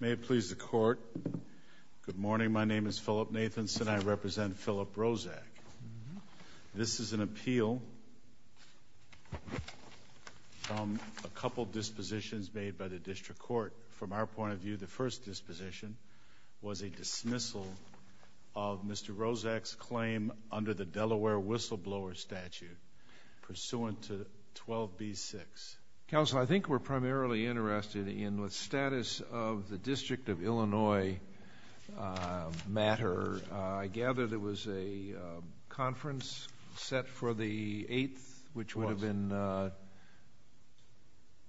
May it please the Court, good morning. My name is Philip Nathanson. I represent Philip Roszak. This is an appeal from a couple of dispositions made by the District Court. From our point of view, the first disposition was a dismissal of Mr. Roszak's claim under the Delaware whistleblower statute pursuant to 12b-6. Counsel, I think we're primarily interested in the status of the District of Illinois matter. I gather there was a conference set for the 8th, which would have been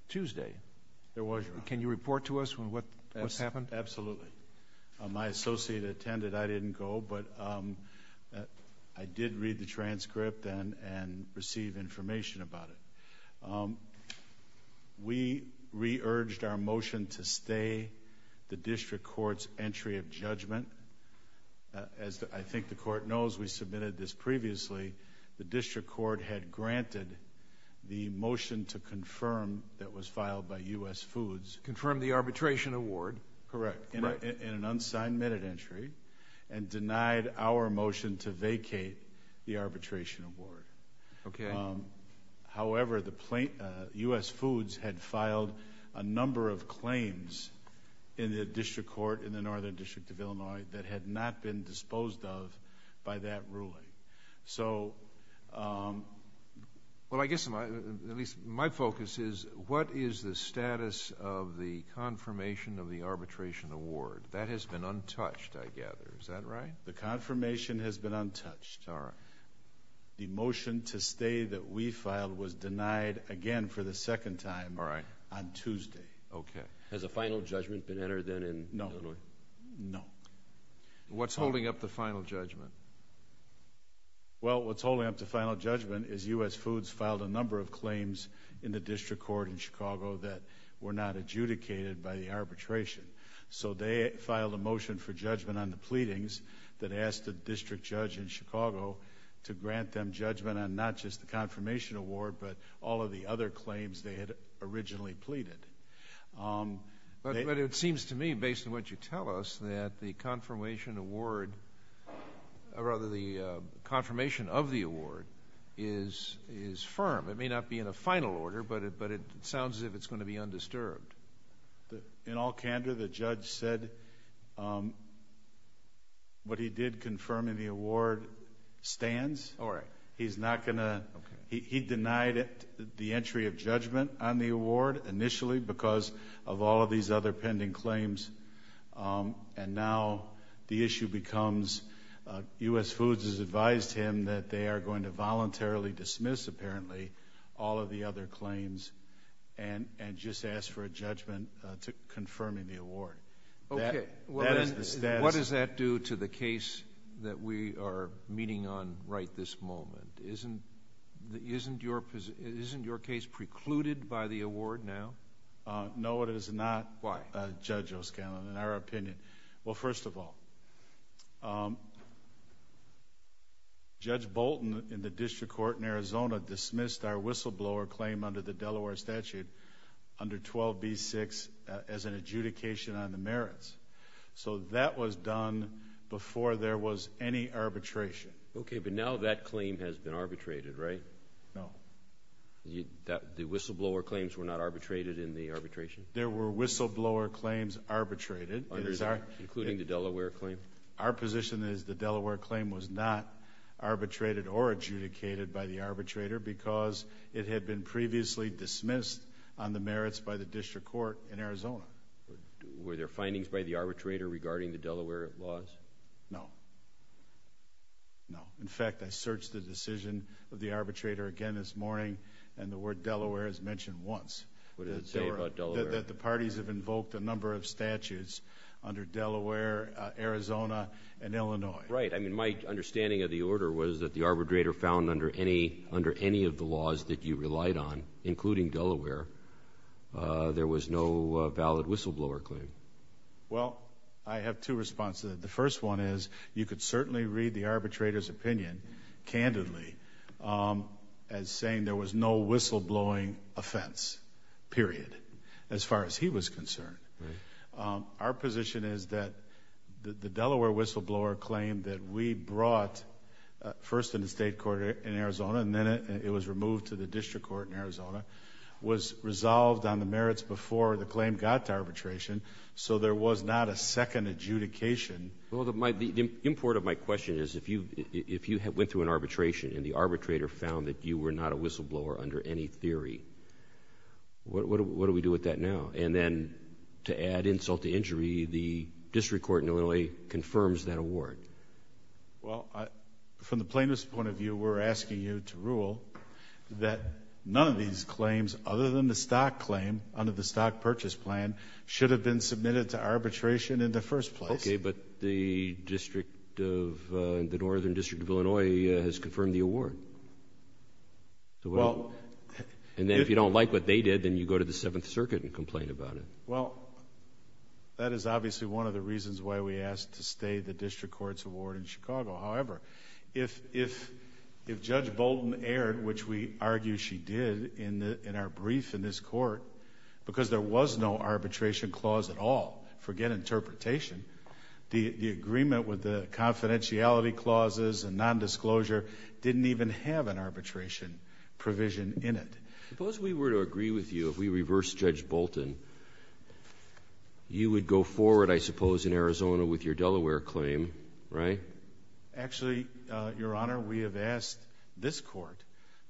Tuesday. There was. Can you report to us what happened? Absolutely. My associate attended. I didn't go, but I did read the transcript and receive information about it. We re-urged our motion to stay the District Court's entry of judgment. As I think the Court knows, we submitted this previously. The District Court had granted the motion to confirm that was filed by U.S. Foods. Confirmed the arbitration award. Correct, in an unsigned minute entry, and denied our motion to vacate the arbitration award. Okay. However, U.S. Foods had filed a number of claims in the District Court in the Northern District of Illinois that had not been disposed of by that ruling. Well, I guess, at least my focus is, what is the status of the confirmation of the arbitration award? That has been untouched, I gather. Is that right? The confirmation has been untouched. All right. The motion to stay that we filed was denied again for the second time on Tuesday. Okay. Has a final judgment been entered then in Illinois? No. No. What's holding up the final judgment? Well, what's holding up the final judgment is U.S. Foods filed a number of claims in the District Court in Chicago that were not adjudicated by the arbitration. So they filed a motion for judgment on the pleadings that asked the district judge in Chicago to grant them judgment on not just the confirmation award, but all of the other claims they had originally pleaded. But it seems to me, based on what you tell us, that the confirmation award, or rather the confirmation of the award, is firm. It may not be in a final order, but it sounds as if it's going to be undisturbed. In all candor, the judge said what he did confirming the award stands. All right. He's not going to... Okay. He denied the entry of judgment on the award initially because of all of these other pending claims. And now the issue becomes U.S. Foods has advised him that they are going to voluntarily dismiss, apparently, all of the other claims and just ask for a judgment confirming the award. Okay. That is the status... What does that do to the case that we are meeting on right this moment? Isn't your case precluded by the award now? No, it is not. Why? Judge O'Scanlan, in our opinion. Well, first of all, Judge Bolton, in the district court in Arizona, dismissed our whistleblower claim under the Delaware statute under 12b-6 as an adjudication on the merits. So that was done before there was any arbitration. Okay, but now that claim has been arbitrated, right? No. The whistleblower claims were not arbitrated in the arbitration? There were whistleblower claims arbitrated. Including the Delaware claim? Our position is the Delaware claim was not arbitrated or adjudicated by the arbitrator because it had been previously dismissed on the merits by the district court in Arizona. Were there findings by the arbitrator regarding the Delaware laws? No. No. In fact, I searched the decision of the arbitrator again this morning, and the word Delaware is mentioned once. What does it say about Delaware? That the parties have invoked a number of statutes under Delaware, Arizona, and Illinois. Right. I mean, my understanding of the order was that the arbitrator found under any of the laws that you relied on, including Delaware, there was no valid whistleblower claim. Well, I have two responses. The first one is you could certainly read the arbitrator's opinion candidly as saying there was no whistleblowing offense, period. As far as he was concerned. Right. Our position is that the Delaware whistleblower claim that we brought first in the state court in Arizona and then it was removed to the district court in Arizona was resolved on the merits before the claim got to arbitration, so there was not a second adjudication. Well, the import of my question is if you went through an arbitration and the arbitrator found that you were not a whistleblower under any theory, what do we do with that now? And then to add insult to injury, the district court in Illinois confirms that award. Well, from the plaintiff's point of view, we're asking you to rule that none of these claims other than the stock claim under the stock purchase plan should have been submitted to arbitration in the first place. Okay, but the Northern District of Illinois has confirmed the award. And then if you don't like what they did, then you go to the Seventh Circuit and complain about it. Well, that is obviously one of the reasons why we asked to stay the district court's award in Chicago. However, if Judge Bolton erred, which we argue she did in our brief in this court, because there was no arbitration clause at all, forget interpretation, the agreement with the confidentiality clauses and nondisclosure didn't even have an arbitration provision in it. Suppose we were to agree with you if we reversed Judge Bolton. You would go forward, I suppose, in Arizona with your Delaware claim, right? Actually, Your Honor, we have asked this court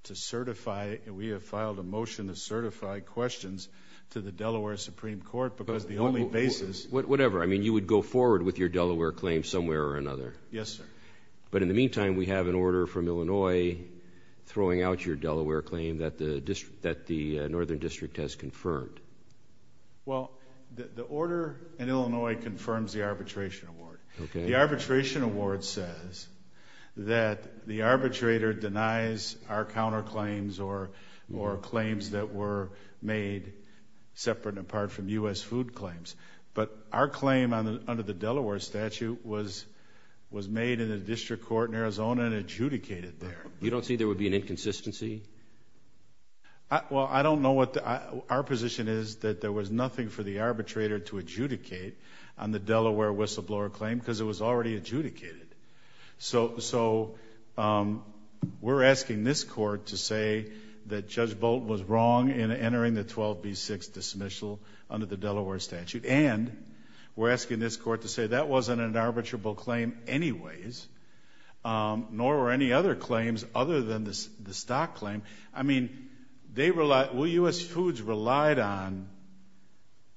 to certify and we have filed a motion to certify questions to the Delaware Supreme Court because the only basis Whatever, I mean you would go forward with your Delaware claim somewhere or another. Yes, sir. But in the meantime, we have an order from Illinois throwing out your Delaware claim that the Northern District has confirmed. Well, the order in Illinois confirms the arbitration award. The arbitration award says that the arbitrator denies our counterclaims or claims that were made separate and apart from U.S. food claims. But our claim under the Delaware statute was made in a district court in Arizona and adjudicated there. You don't see there would be an inconsistency? Well, I don't know what our position is that there was nothing for the arbitrator to adjudicate on the Delaware whistleblower claim because it was already adjudicated. So we're asking this court to say that Judge Bolton was wrong in entering the 12B6 dismissal under the Delaware statute and we're asking this court to say that wasn't an arbitrable claim anyways, nor were any other claims other than the stock claim. I mean, U.S. foods relied on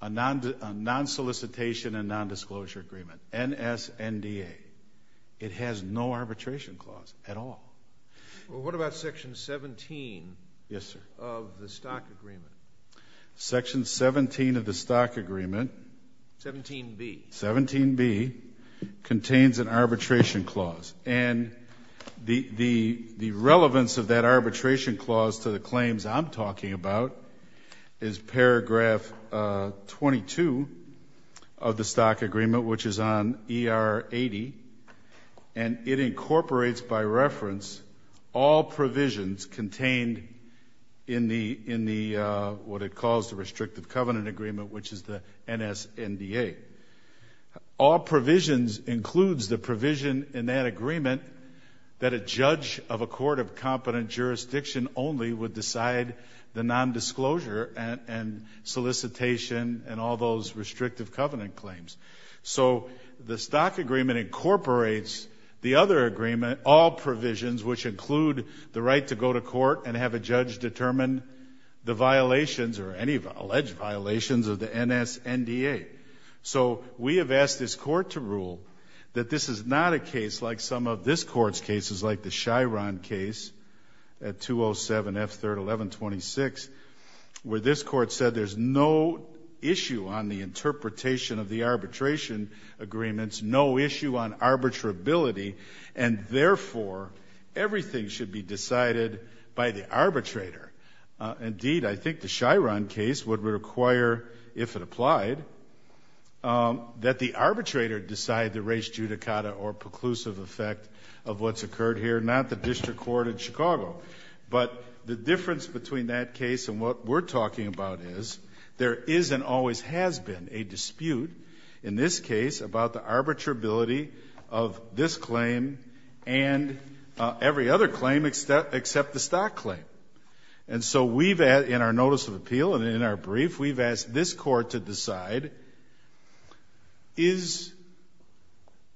a nonsolicitation and nondisclosure agreement, NSNDA. It has no arbitration clause at all. Well, what about Section 17 of the stock agreement? Section 17 of the stock agreement. 17B. 17B contains an arbitration clause. And the relevance of that arbitration clause to the claims I'm talking about is paragraph 22 of the stock agreement, which is on ER 80, and it incorporates by reference all provisions contained in the, what it calls the restrictive covenant agreement, which is the NSNDA. All provisions includes the provision in that agreement that a judge of a court of competent jurisdiction only would decide the nondisclosure and solicitation and all those restrictive covenant claims. So the stock agreement incorporates the other agreement, all provisions, which include the right to go to court and have a judge determine the violations or any alleged violations of the NSNDA. So we have asked this Court to rule that this is not a case like some of this Court's cases, like the Chiron case at 207F3-1126, where this Court said there's no issue on the interpretation of the arbitration agreements, no issue on arbitrability, and therefore, everything should be decided by the arbitrator. Indeed, I think the Chiron case would require, if it applied, that the arbitrator decide the res judicata or preclusive effect of what's occurred here, not the district court in Chicago. But the difference between that case and what we're talking about is there is and always has been a dispute in this case about the arbitrability of this claim and every other claim except the stock claim. And so we've, in our notice of appeal and in our brief, we've asked this Court to decide, is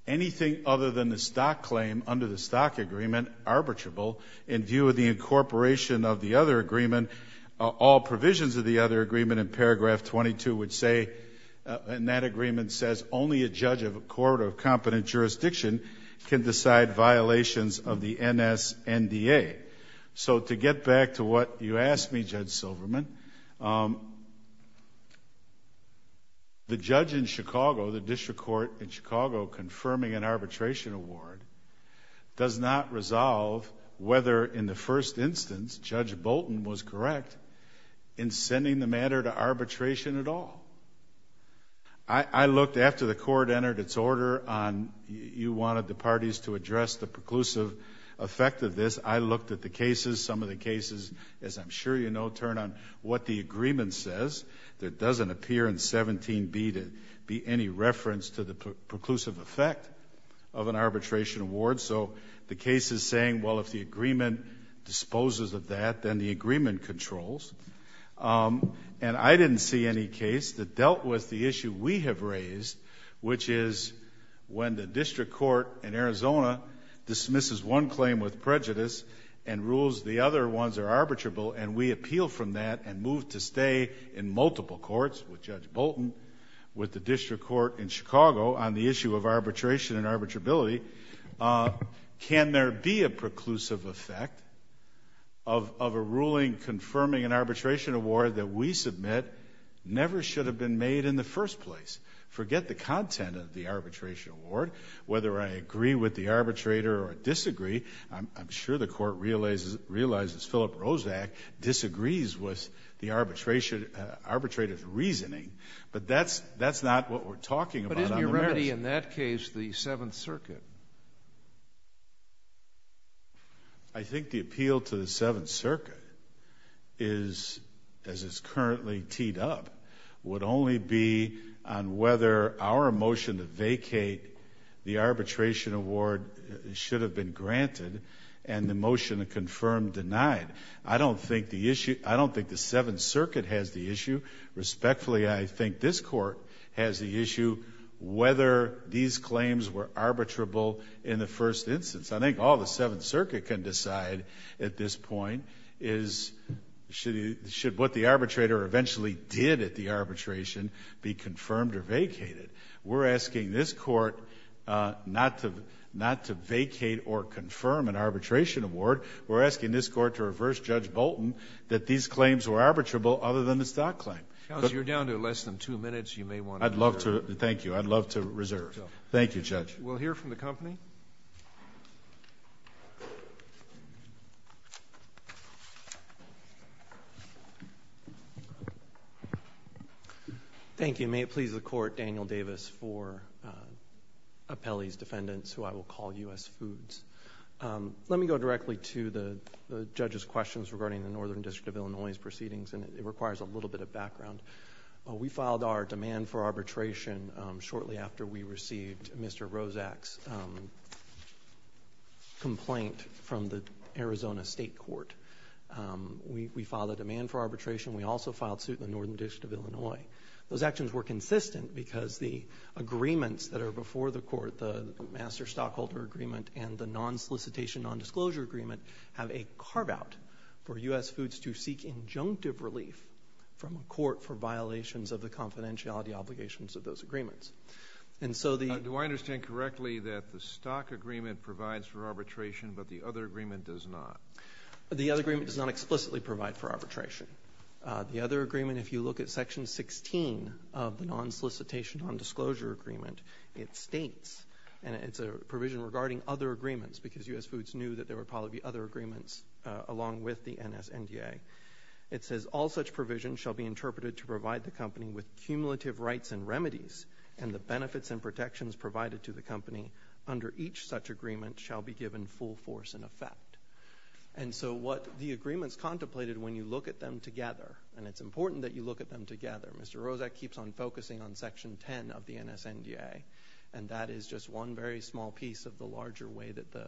anything other than the stock claim under the stock agreement arbitrable? In view of the incorporation of the other agreement, all provisions of the other agreement in paragraph 22 would say, and that agreement says, only a judge of a court of competent jurisdiction can decide violations of the NSNDA. So to get back to what you asked me, Judge Silverman, the judge in Chicago, the district court in Chicago, confirming an arbitration award does not resolve whether in the first instance Judge Bolton was correct in sending the matter to arbitration at all. I looked after the Court entered its order on you wanted the parties to address the preclusive effect of this. I looked at the cases. Some of the cases, as I'm sure you know, turn on what the agreement says. There doesn't appear in 17B to be any reference to the preclusive effect of an arbitration award. So the case is saying, well, if the agreement disposes of that, then the agreement controls. And I didn't see any case that dealt with the issue we have raised, which is when the district court in Arizona dismisses one claim with prejudice and rules the other ones are arbitrable, and we appeal from that and move to stay in multiple courts with Judge Bolton, with the district court in Chicago on the issue of arbitration and arbitrability, can there be a preclusive effect of a ruling confirming an arbitration award that we submit never should have been made in the first place? Forget the content of the arbitration award. Whether I agree with the arbitrator or disagree, I'm sure the Court realizes Philip Rozak disagrees with the arbitrator's reasoning, but that's not what we're talking about on the merits. Would it be, in that case, the Seventh Circuit? I think the appeal to the Seventh Circuit is, as it's currently teed up, would only be on whether our motion to vacate the arbitration award should have been granted and the motion to confirm denied. I don't think the issue — I don't think the Seventh Circuit has the issue. Respectfully, I think this Court has the issue whether these claims were arbitrable in the first instance. I think all the Seventh Circuit can decide at this point is should what the arbitrator eventually did at the arbitration be confirmed or vacated. We're asking this Court not to vacate or confirm an arbitration award. We're asking this Court to reverse Judge Bolton that these claims were arbitrable other than the stock claim. Counsel, you're down to less than two minutes. You may want to return. I'd love to. Thank you. I'd love to reserve. Thank you, Judge. We'll hear from the company. Thank you. May it please the Court, Daniel Davis, for appellees, defendants, who I will call U.S. Foods. Let me go directly to the judge's questions regarding the Northern District of Illinois's case, which requires a little bit of background. We filed our demand for arbitration shortly after we received Mr. Rozak's complaint from the Arizona State Court. We filed a demand for arbitration. We also filed suit in the Northern District of Illinois. Those actions were consistent because the agreements that are before the Court, the master stockholder agreement and the non-solicitation, non-disclosure agreement, have a carve-out for U.S. Foods to seek injunctive relief from a court for violations of the confidentiality obligations of those agreements. Do I understand correctly that the stock agreement provides for arbitration, but the other agreement does not? The other agreement does not explicitly provide for arbitration. The other agreement, if you look at Section 16 of the non-solicitation, non-disclosure agreement, it states, and it's a provision regarding other agreements because U.S. Foods knew that there would probably be other agreements along with the NSNDA. It says, all such provisions shall be interpreted to provide the company with cumulative rights and remedies, and the benefits and protections provided to the company under each such agreement shall be given full force and effect. And so what the agreements contemplated, when you look at them together, and it's important that you look at them together, Mr. Rozak keeps on focusing on Section 10 of the NSNDA, and that is just one very small piece of the larger way that the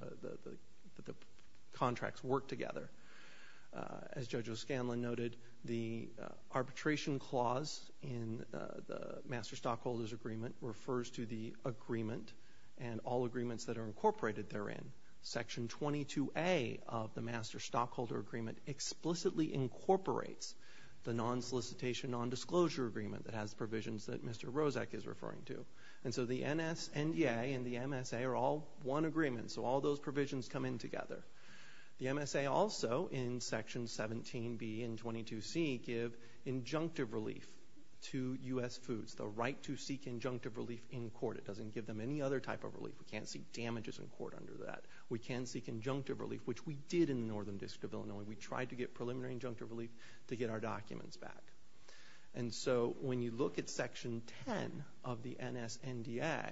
contracts work together. As Judge O'Scanlan noted, the arbitration clause in the Master Stockholders Agreement refers to the agreement and all agreements that are incorporated therein. Section 22A of the Master Stockholder Agreement explicitly incorporates the non-solicitation, non-disclosure agreement that has provisions that Mr. Rozak is referring to. And so the NSNDA and the MSA are all one agreement, so all those provisions come in together. The MSA also, in Section 17B and 22C, give injunctive relief to U.S. Foods, the right to seek injunctive relief in court. It doesn't give them any other type of relief. We can't seek damages in court under that. We can seek injunctive relief, which we did in the Northern District of Illinois. We tried to get preliminary injunctive relief to get our documents back. And so when you look at Section 10 of the NSNDA,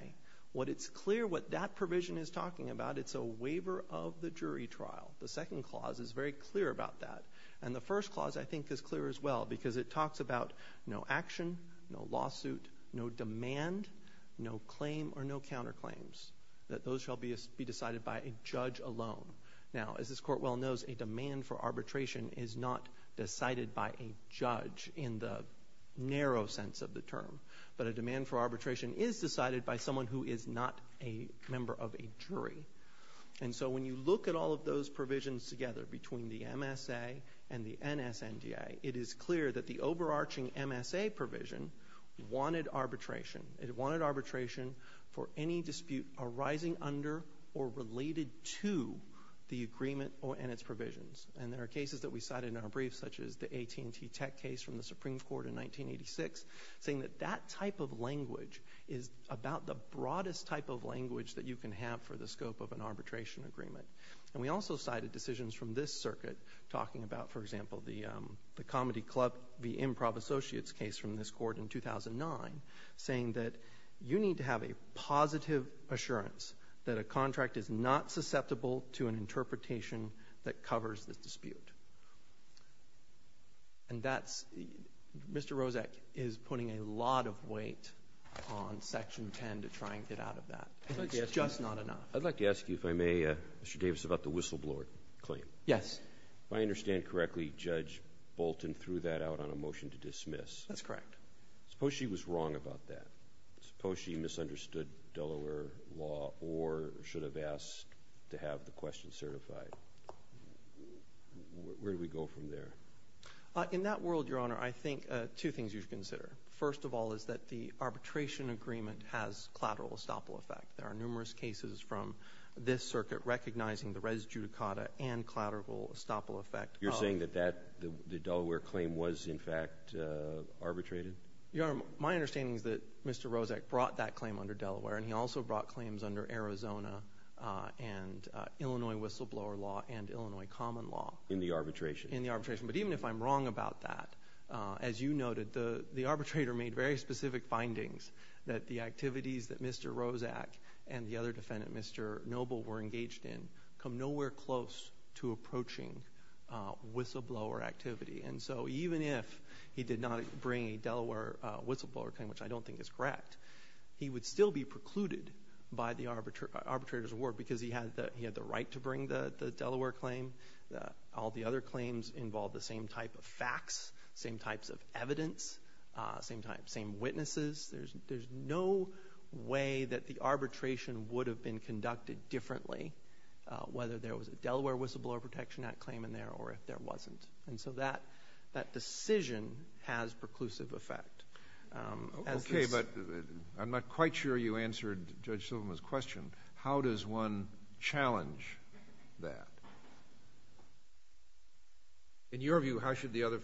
what it's clear what that provision is talking about, it's a waiver of the jury trial. The second clause is very clear about that. And the first clause, I think, is clear as well because it talks about no action, no lawsuit, no demand, no claim or no counterclaims, that those shall be decided by a judge alone. Now, as this Court well knows, a demand for arbitration is not decided by a judge in the narrow sense of the term. But a demand for arbitration is decided by someone who is not a member of a jury. And so when you look at all of those provisions together between the MSA and the NSNDA, it is clear that the overarching MSA provision wanted arbitration. It wanted arbitration for any dispute arising under or related to the agreement and its provisions. And there are cases that we cited in our brief, such as the AT&T tech case from the Supreme Court in 1986, saying that that type of language is about the broadest type of language that you can have for the scope of an arbitration agreement. And we also cited decisions from this circuit talking about, for example, the Comedy Club v. Improv Associates case from this Court in 2009, saying that you need to have a positive assurance that a contract is not susceptible to an interpretation that covers the dispute. And that's Mr. Rozek is putting a lot of weight on Section 10 to try and get out of that. It's just not enough. Roberts. I'd like to ask you, if I may, Mr. Davis, about the whistleblower claim. Yes. If I understand correctly, Judge Bolton threw that out on a motion to dismiss. That's correct. Suppose she was wrong about that. Suppose she misunderstood Delaware law or should have asked to have the question certified. Where do we go from there? In that world, Your Honor, I think two things you should consider. First of all is that the arbitration agreement has collateral estoppel effect. There are numerous cases from this circuit recognizing the res judicata and collateral estoppel effect. You're saying that the Delaware claim was, in fact, arbitrated? Your Honor, my understanding is that Mr. Rozek brought that claim under Delaware, and he also brought claims under Arizona and Illinois whistleblower law and Illinois common law. In the arbitration? In the arbitration. But even if I'm wrong about that, as you noted, the arbitrator made very specific findings that the activities that Mr. Rozek and the other defendant, Mr. Noble, were engaged in come nowhere close to approaching whistleblower activity. And so even if he did not bring a Delaware whistleblower claim, which I don't think is correct, he would still be precluded by the arbitrator's award because he had the right to bring the Delaware claim. All the other claims involved the same type of facts, same types of evidence, same witnesses. There's no way that the arbitration would have been conducted differently, whether there was a Delaware Whistleblower Protection Act claim in there or if there wasn't. And so that decision has preclusive effect. Okay, but I'm not quite sure you answered Judge Silva's question. How does one challenge that? In your view, how should the other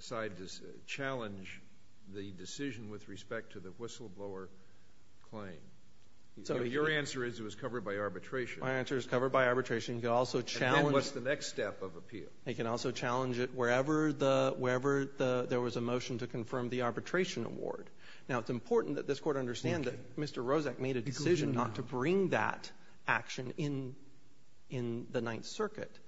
side challenge the decision with respect to the whistleblower claim? Your answer is it was covered by arbitration. My answer is it was covered by arbitration. And then what's the next step of appeal? They can also challenge it wherever there was a motion to confirm the arbitration award. Now, it's important that this Court understand that Mr. Rozak made a decision not to bring that action in the Ninth Circuit.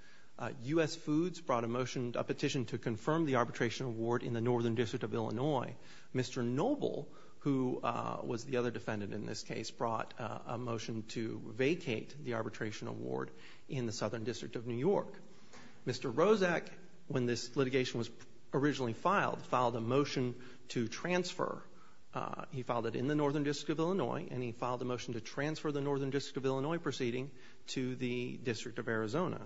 U.S. Foods brought a motion, a petition to confirm the arbitration award in the Northern District of Illinois. Mr. Noble, who was the other defendant in this case, brought a motion to vacate the arbitration award in the Southern District of New York. Mr. Rozak, when this litigation was originally filed, filed a motion to transfer. He filed it in the Northern District of Illinois, and he filed a motion to transfer the Northern District of Illinois proceeding to the District of Arizona.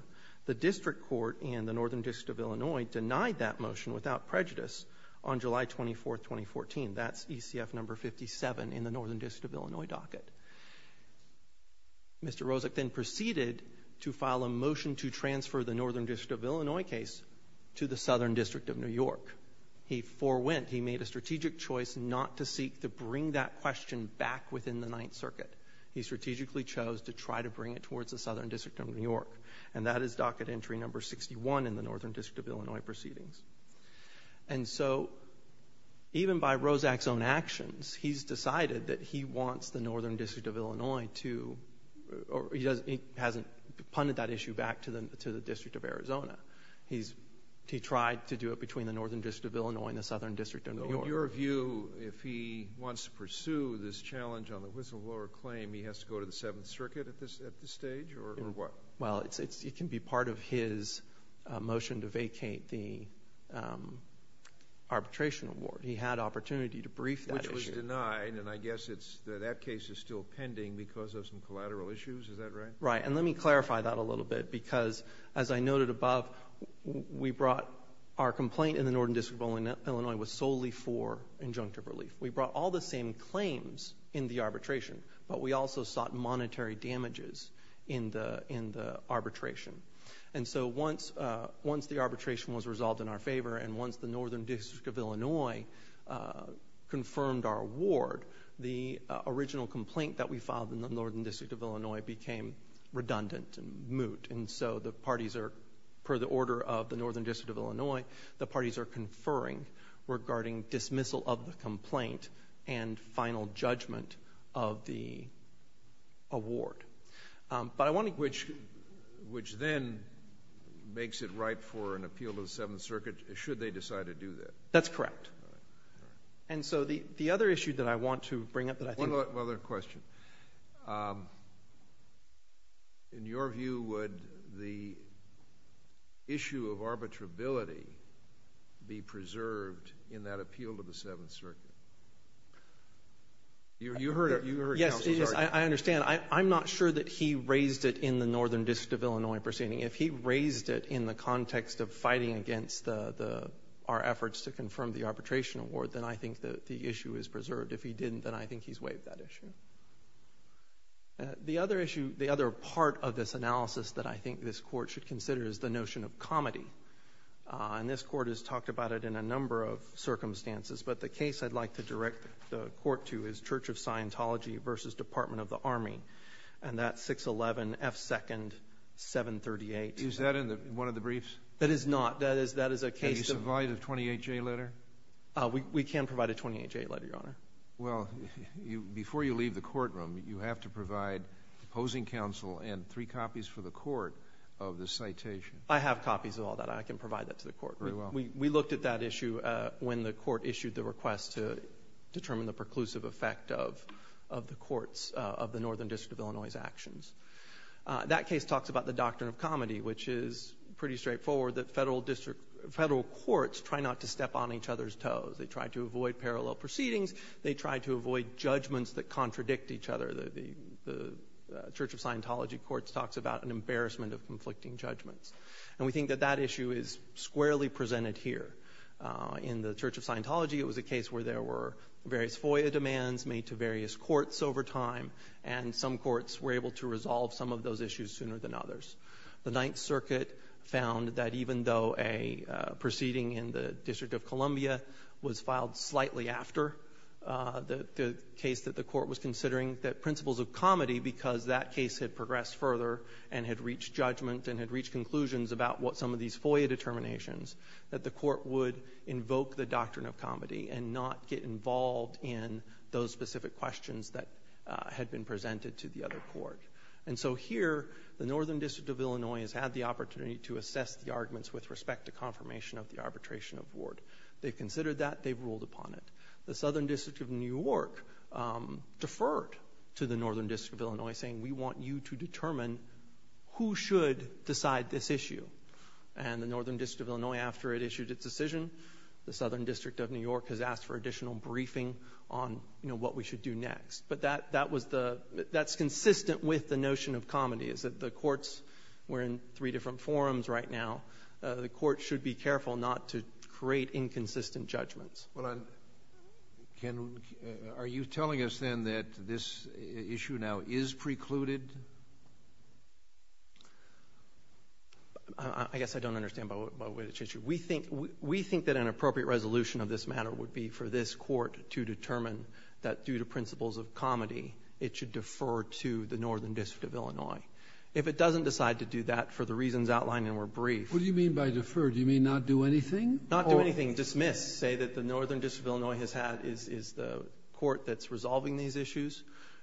The District Court in the Northern District of Illinois denied that motion without prejudice on July 24, 2014. That's ECF No. 57 in the Northern District of Illinois docket. Mr. Rozak then proceeded to file a motion to transfer the Northern District of Illinois case to the Southern District of New York. He forewent. He made a strategic choice not to seek to bring that question back within the Ninth Circuit. He strategically chose to try to bring it towards the Southern District of New York. And that is docket entry No. 61 in the Northern District of Illinois proceedings. And so even by Rozak's own actions, he's decided that he wants the Northern District of Illinois to or he hasn't punted that issue back to the District of Arizona. He's tried to do it between the Northern District of Illinois and the Southern District of New York. In your view, if he wants to pursue this challenge on the whistleblower claim, he has to go to the Seventh Circuit at this stage or what? Well, it can be part of his motion to vacate the arbitration award. He had opportunity to brief that issue. Which was denied, and I guess that case is still pending because of some collateral issues. Is that right? Right. And let me clarify that a little bit because, as I noted above, we brought our complaint in the Northern District of Illinois was solely for injunctive relief. We brought all the same claims in the arbitration, but we also sought monetary damages in the arbitration. And so once the arbitration was resolved in our favor and once the Northern District of Illinois confirmed our award, the original complaint that we filed in the Northern District of Illinois became redundant and moot. And so the parties are, per the order of the Northern District of Illinois, the parties are conferring regarding dismissal of the complaint and final judgment of the award. But I want to – Which then makes it right for an appeal to the Seventh Circuit, should they decide to do that. That's correct. And so the other issue that I want to bring up that I think – One other question. In your view, would the issue of arbitrability be preserved in that appeal to the Seventh Circuit? You heard counsel's argument. Yes, I understand. I'm not sure that he raised it in the Northern District of Illinois proceeding. If he raised it in the context of fighting against our efforts to confirm the arbitration award, then I think the issue is preserved. If he didn't, then I think he's waived that issue. The other issue, the other part of this analysis that I think this Court should consider is the notion of comedy. And this Court has talked about it in a number of circumstances, but the case I'd like to direct the Court to is Church of Scientology v. Department of the Army. And that's 611 F. 2nd, 738. Is that in one of the briefs? That is not. That is a case of – Can you provide a 28-J letter? We can provide a 28-J letter, Your Honor. Well, before you leave the courtroom, you have to provide opposing counsel and three copies for the court of the citation. I have copies of all that. I can provide that to the court. Very well. We looked at that issue when the Court issued the request to determine the preclusive effect of the courts of the Northern District of Illinois's actions. That case talks about the doctrine of comedy, which is pretty straightforward, that federal courts try not to step on each other's toes. They try to avoid parallel proceedings. They try to avoid judgments that contradict each other. The Church of Scientology courts talks about an embarrassment of conflicting judgments. And we think that that issue is squarely presented here. In the Church of Scientology, it was a case where there were various FOIA demands made to various courts over time, and some courts were able to resolve some of those issues sooner than others. The Ninth Circuit found that even though a proceeding in the District of Columbia was filed slightly after the case that the court was considering, that principles of comedy, because that case had progressed further and had reached judgment and had reached conclusions about what some of these FOIA determinations, that the court would invoke the doctrine of comedy and not get involved in those specific questions that had been presented to the other court. And so here, the Northern District of Illinois has had the opportunity to assess the arguments with respect to confirmation of the arbitration of Ward. They've considered that. They've ruled upon it. The Southern District of New York deferred to the Northern District of Illinois, saying, we want you to determine who should decide this issue. And the Northern District of Illinois, after it issued its decision, the Southern District of New York has asked for additional briefing on what we should do next. But that's consistent with the notion of comedy, is that the courts were in three different forums right now. The courts should be careful not to create inconsistent judgments. Well, Ken, are you telling us then that this issue now is precluded? I guess I don't understand by which issue. We think that an appropriate resolution of this matter would be for this court to determine that due to principles of comedy, it should defer to the Northern District of Illinois. If it doesn't decide to do that for the reasons outlined and were briefed. What do you mean by defer? Do you mean not do anything? Not do anything. Dismiss. I say that the Northern District of Illinois is the court that's resolving these issues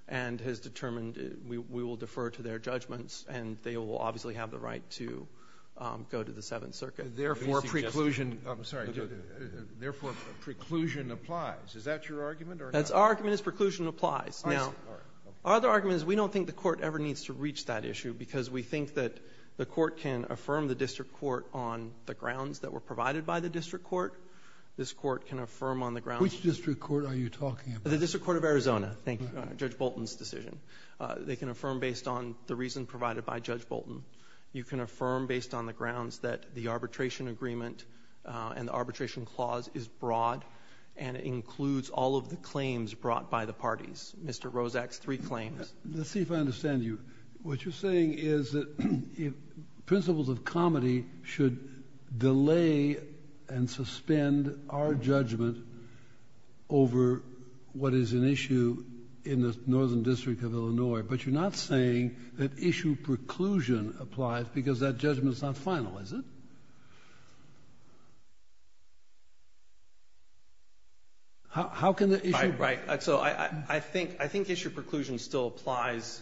and has determined we will defer to their judgments, and they will obviously have the right to go to the Seventh Circuit. Therefore, preclusion applies. Is that your argument? Our argument is preclusion applies. Our other argument is we don't think the court ever needs to reach that issue because we think that the court can affirm the district court on the grounds that were provided by the district court. This court can affirm on the grounds of the district court. Which district court are you talking about? The district court of Arizona. Thank you. Judge Bolton's decision. They can affirm based on the reason provided by Judge Bolton. You can affirm based on the grounds that the arbitration agreement and the arbitration clause is broad and includes all of the claims brought by the parties. Mr. Rosak's three claims. Let's see if I understand you. What you're saying is that principles of comity should delay and suspend our judgment over what is an issue in the Northern District of Illinois. But you're not saying that issue preclusion applies because that judgment is not final, is it? How can the issue be? Right. So I think issue preclusion still applies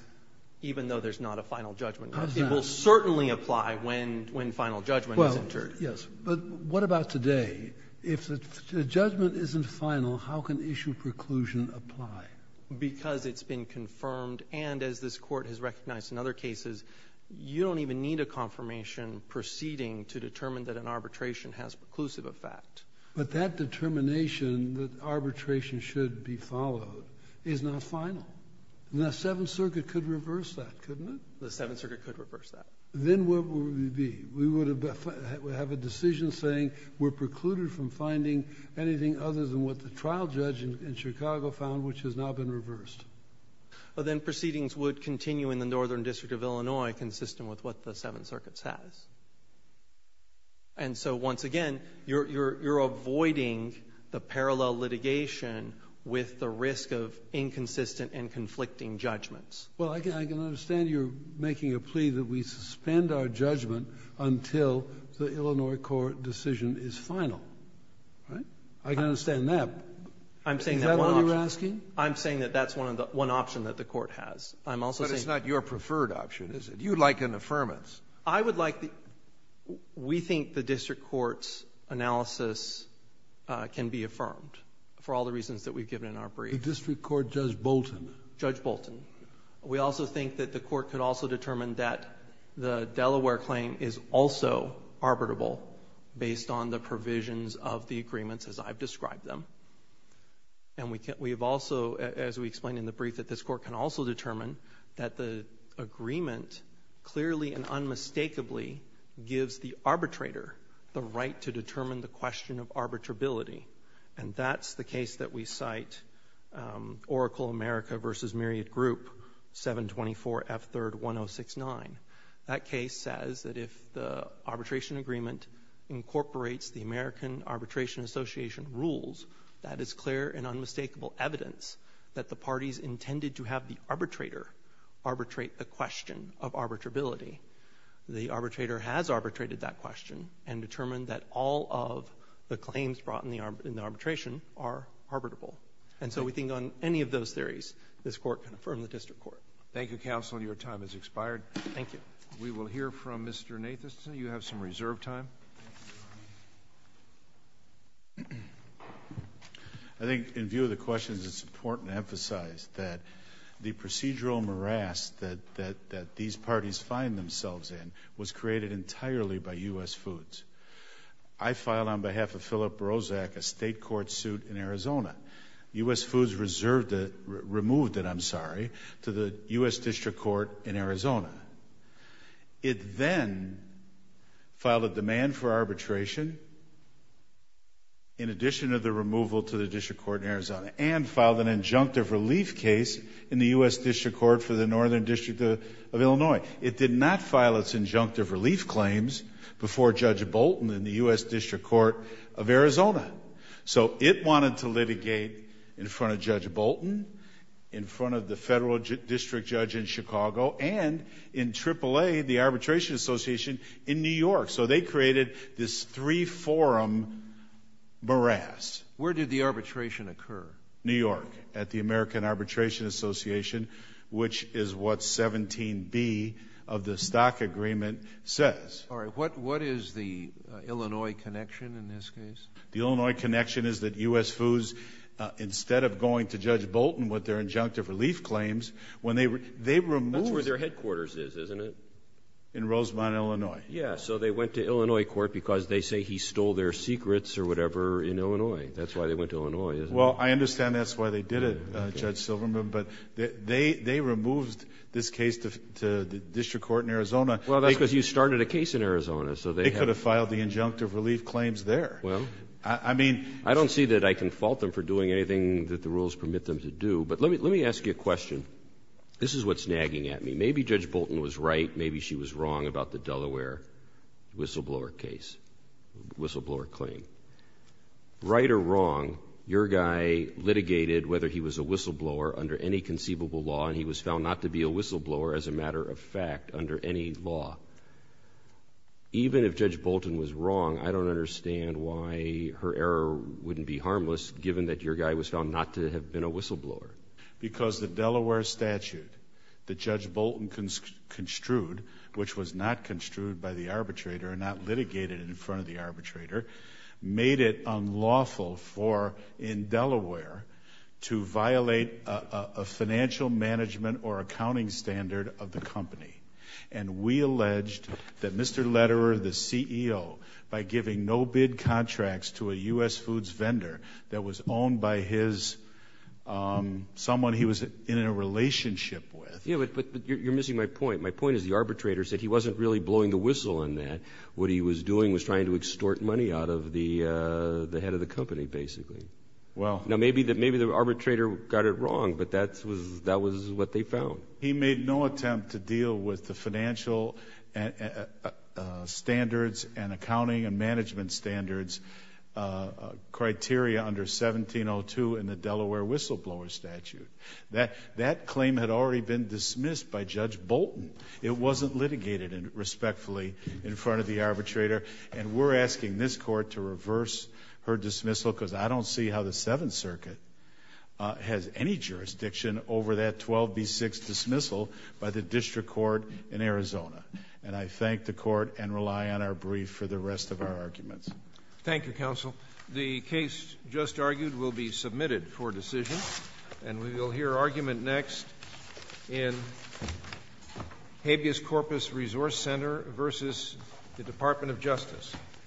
even though there's not a final judgment. It will certainly apply when final judgment is entered. Well, yes. But what about today? If the judgment isn't final, how can issue preclusion apply? Because it's been confirmed. And as this Court has recognized in other cases, you don't even need a confirmation proceeding to determine that an arbitration has preclusive effect. But that determination that arbitration should be followed is not final. And the Seventh Circuit could reverse that, couldn't it? The Seventh Circuit could reverse that. Then what would we be? We would have a decision saying we're precluded from finding anything other than what the trial judge in Chicago found, which has now been reversed. Well, then proceedings would continue in the Northern District of Illinois consistent with what the Seventh Circuit says. And so, once again, you're avoiding the parallel litigation with the risk of inconsistent and conflicting judgments. Well, I can understand you're making a plea that we suspend our judgment until the Illinois court decision is final, right? I can understand that. Is that what you're asking? I'm saying that that's one option that the Court has. I'm also saying that the Court has. But it's not your preferred option, is it? You'd like an affirmance. I would like the — we think the district court's analysis can be affirmed for all the reasons that we've given in our brief. The district court, Judge Bolton. Judge Bolton. We also think that the Court could also determine that the Delaware claim is also arbitrable based on the provisions of the agreements as I've described them. And we have also, as we explained in the brief, that this Court can also determine that the agreement clearly and unmistakably gives the arbitrator the right to determine the question of arbitrability. And that's the case that we cite, Oracle America v. Myriad Group, 724 F. 3rd 1069. That case says that if the arbitration agreement incorporates the American Arbitration Association rules, that is clear and unmistakable evidence that the parties intended to have the arbitrator arbitrate the question of arbitrability, the arbitrator has arbitrated that question and determined that all of the claims brought in the arbitration are arbitrable. And so we think on any of those theories, this Court can affirm the district court. Thank you, counsel. Your time has expired. Thank you. We will hear from Mr. Nathanson. You have some reserve time. I think in view of the questions, it's important to emphasize that the procedural morass that these parties find themselves in was created entirely by U.S. Foods. I filed on behalf of Philip Brozak a state court suit in Arizona. U.S. Foods removed it, I'm sorry, to the U.S. District Court in Arizona. It then filed a demand for arbitration in addition to the removal to the district court in Arizona and filed an injunctive relief case in the U.S. District Court for the Northern District of Illinois. It did not file its injunctive relief claims before Judge Bolton in the U.S. District Court of Arizona. So it wanted to litigate in front of Judge Bolton, in front of the federal district judge in Chicago, and in AAA, the Arbitration Association, in New York. So they created this three-forum morass. Where did the arbitration occur? New York, at the American Arbitration Association, which is what 17B of the stock agreement says. All right. What is the Illinois connection in this case? The Illinois connection is that U.S. Foods, instead of going to Judge Bolton with their injunctive relief claims, when they removed the case. That's where their headquarters is, isn't it? In Rosemont, Illinois. Yes. So they went to Illinois court because they say he stole their secrets or whatever in Illinois. That's why they went to Illinois, isn't it? Well, I understand that's why they did it, Judge Silverman. But they removed this case to the district court in Arizona. Well, that's because you started a case in Arizona. So they have to file the injunctive relief claims there. Well, I don't see that I can fault them for doing anything that the rules permit them to do. But let me ask you a question. This is what's nagging at me. Maybe Judge Bolton was right, maybe she was wrong about the Delaware whistleblower case, whistleblower claim. Right or wrong, your guy litigated whether he was a whistleblower under any conceivable law, and he was found not to be a whistleblower as a matter of fact under any law. Even if Judge Bolton was wrong, I don't understand why her error wouldn't be harmless given that your guy was found not to have been a whistleblower. Because the Delaware statute that Judge Bolton construed, which was not construed by the arbitrator and not litigated in front of the arbitrator, made it unlawful for, in Delaware, to violate a financial management or accounting standard of the company. And we alleged that Mr. Lederer, the CEO, by giving no-bid contracts to a U.S. foods vendor that was owned by his, someone he was in a relationship with. Yeah, but you're missing my point. My point is the arbitrator said he wasn't really blowing the whistle on that. What he was doing was trying to extort money out of the head of the company, basically. Well. Now, maybe the arbitrator got it wrong, but that was what they found. He made no attempt to deal with the financial standards and accounting and management standards criteria under 1702 in the Delaware whistleblower statute. That claim had already been dismissed by Judge Bolton. It wasn't litigated respectfully in front of the arbitrator. And we're asking this Court to reverse her dismissal because I don't see how the Seventh by the district court in Arizona. And I thank the Court and rely on our brief for the rest of our arguments. Thank you, Counsel. The case just argued will be submitted for decision. And we will hear argument next in Habeas Corpus Resource Center versus the Department of Justice.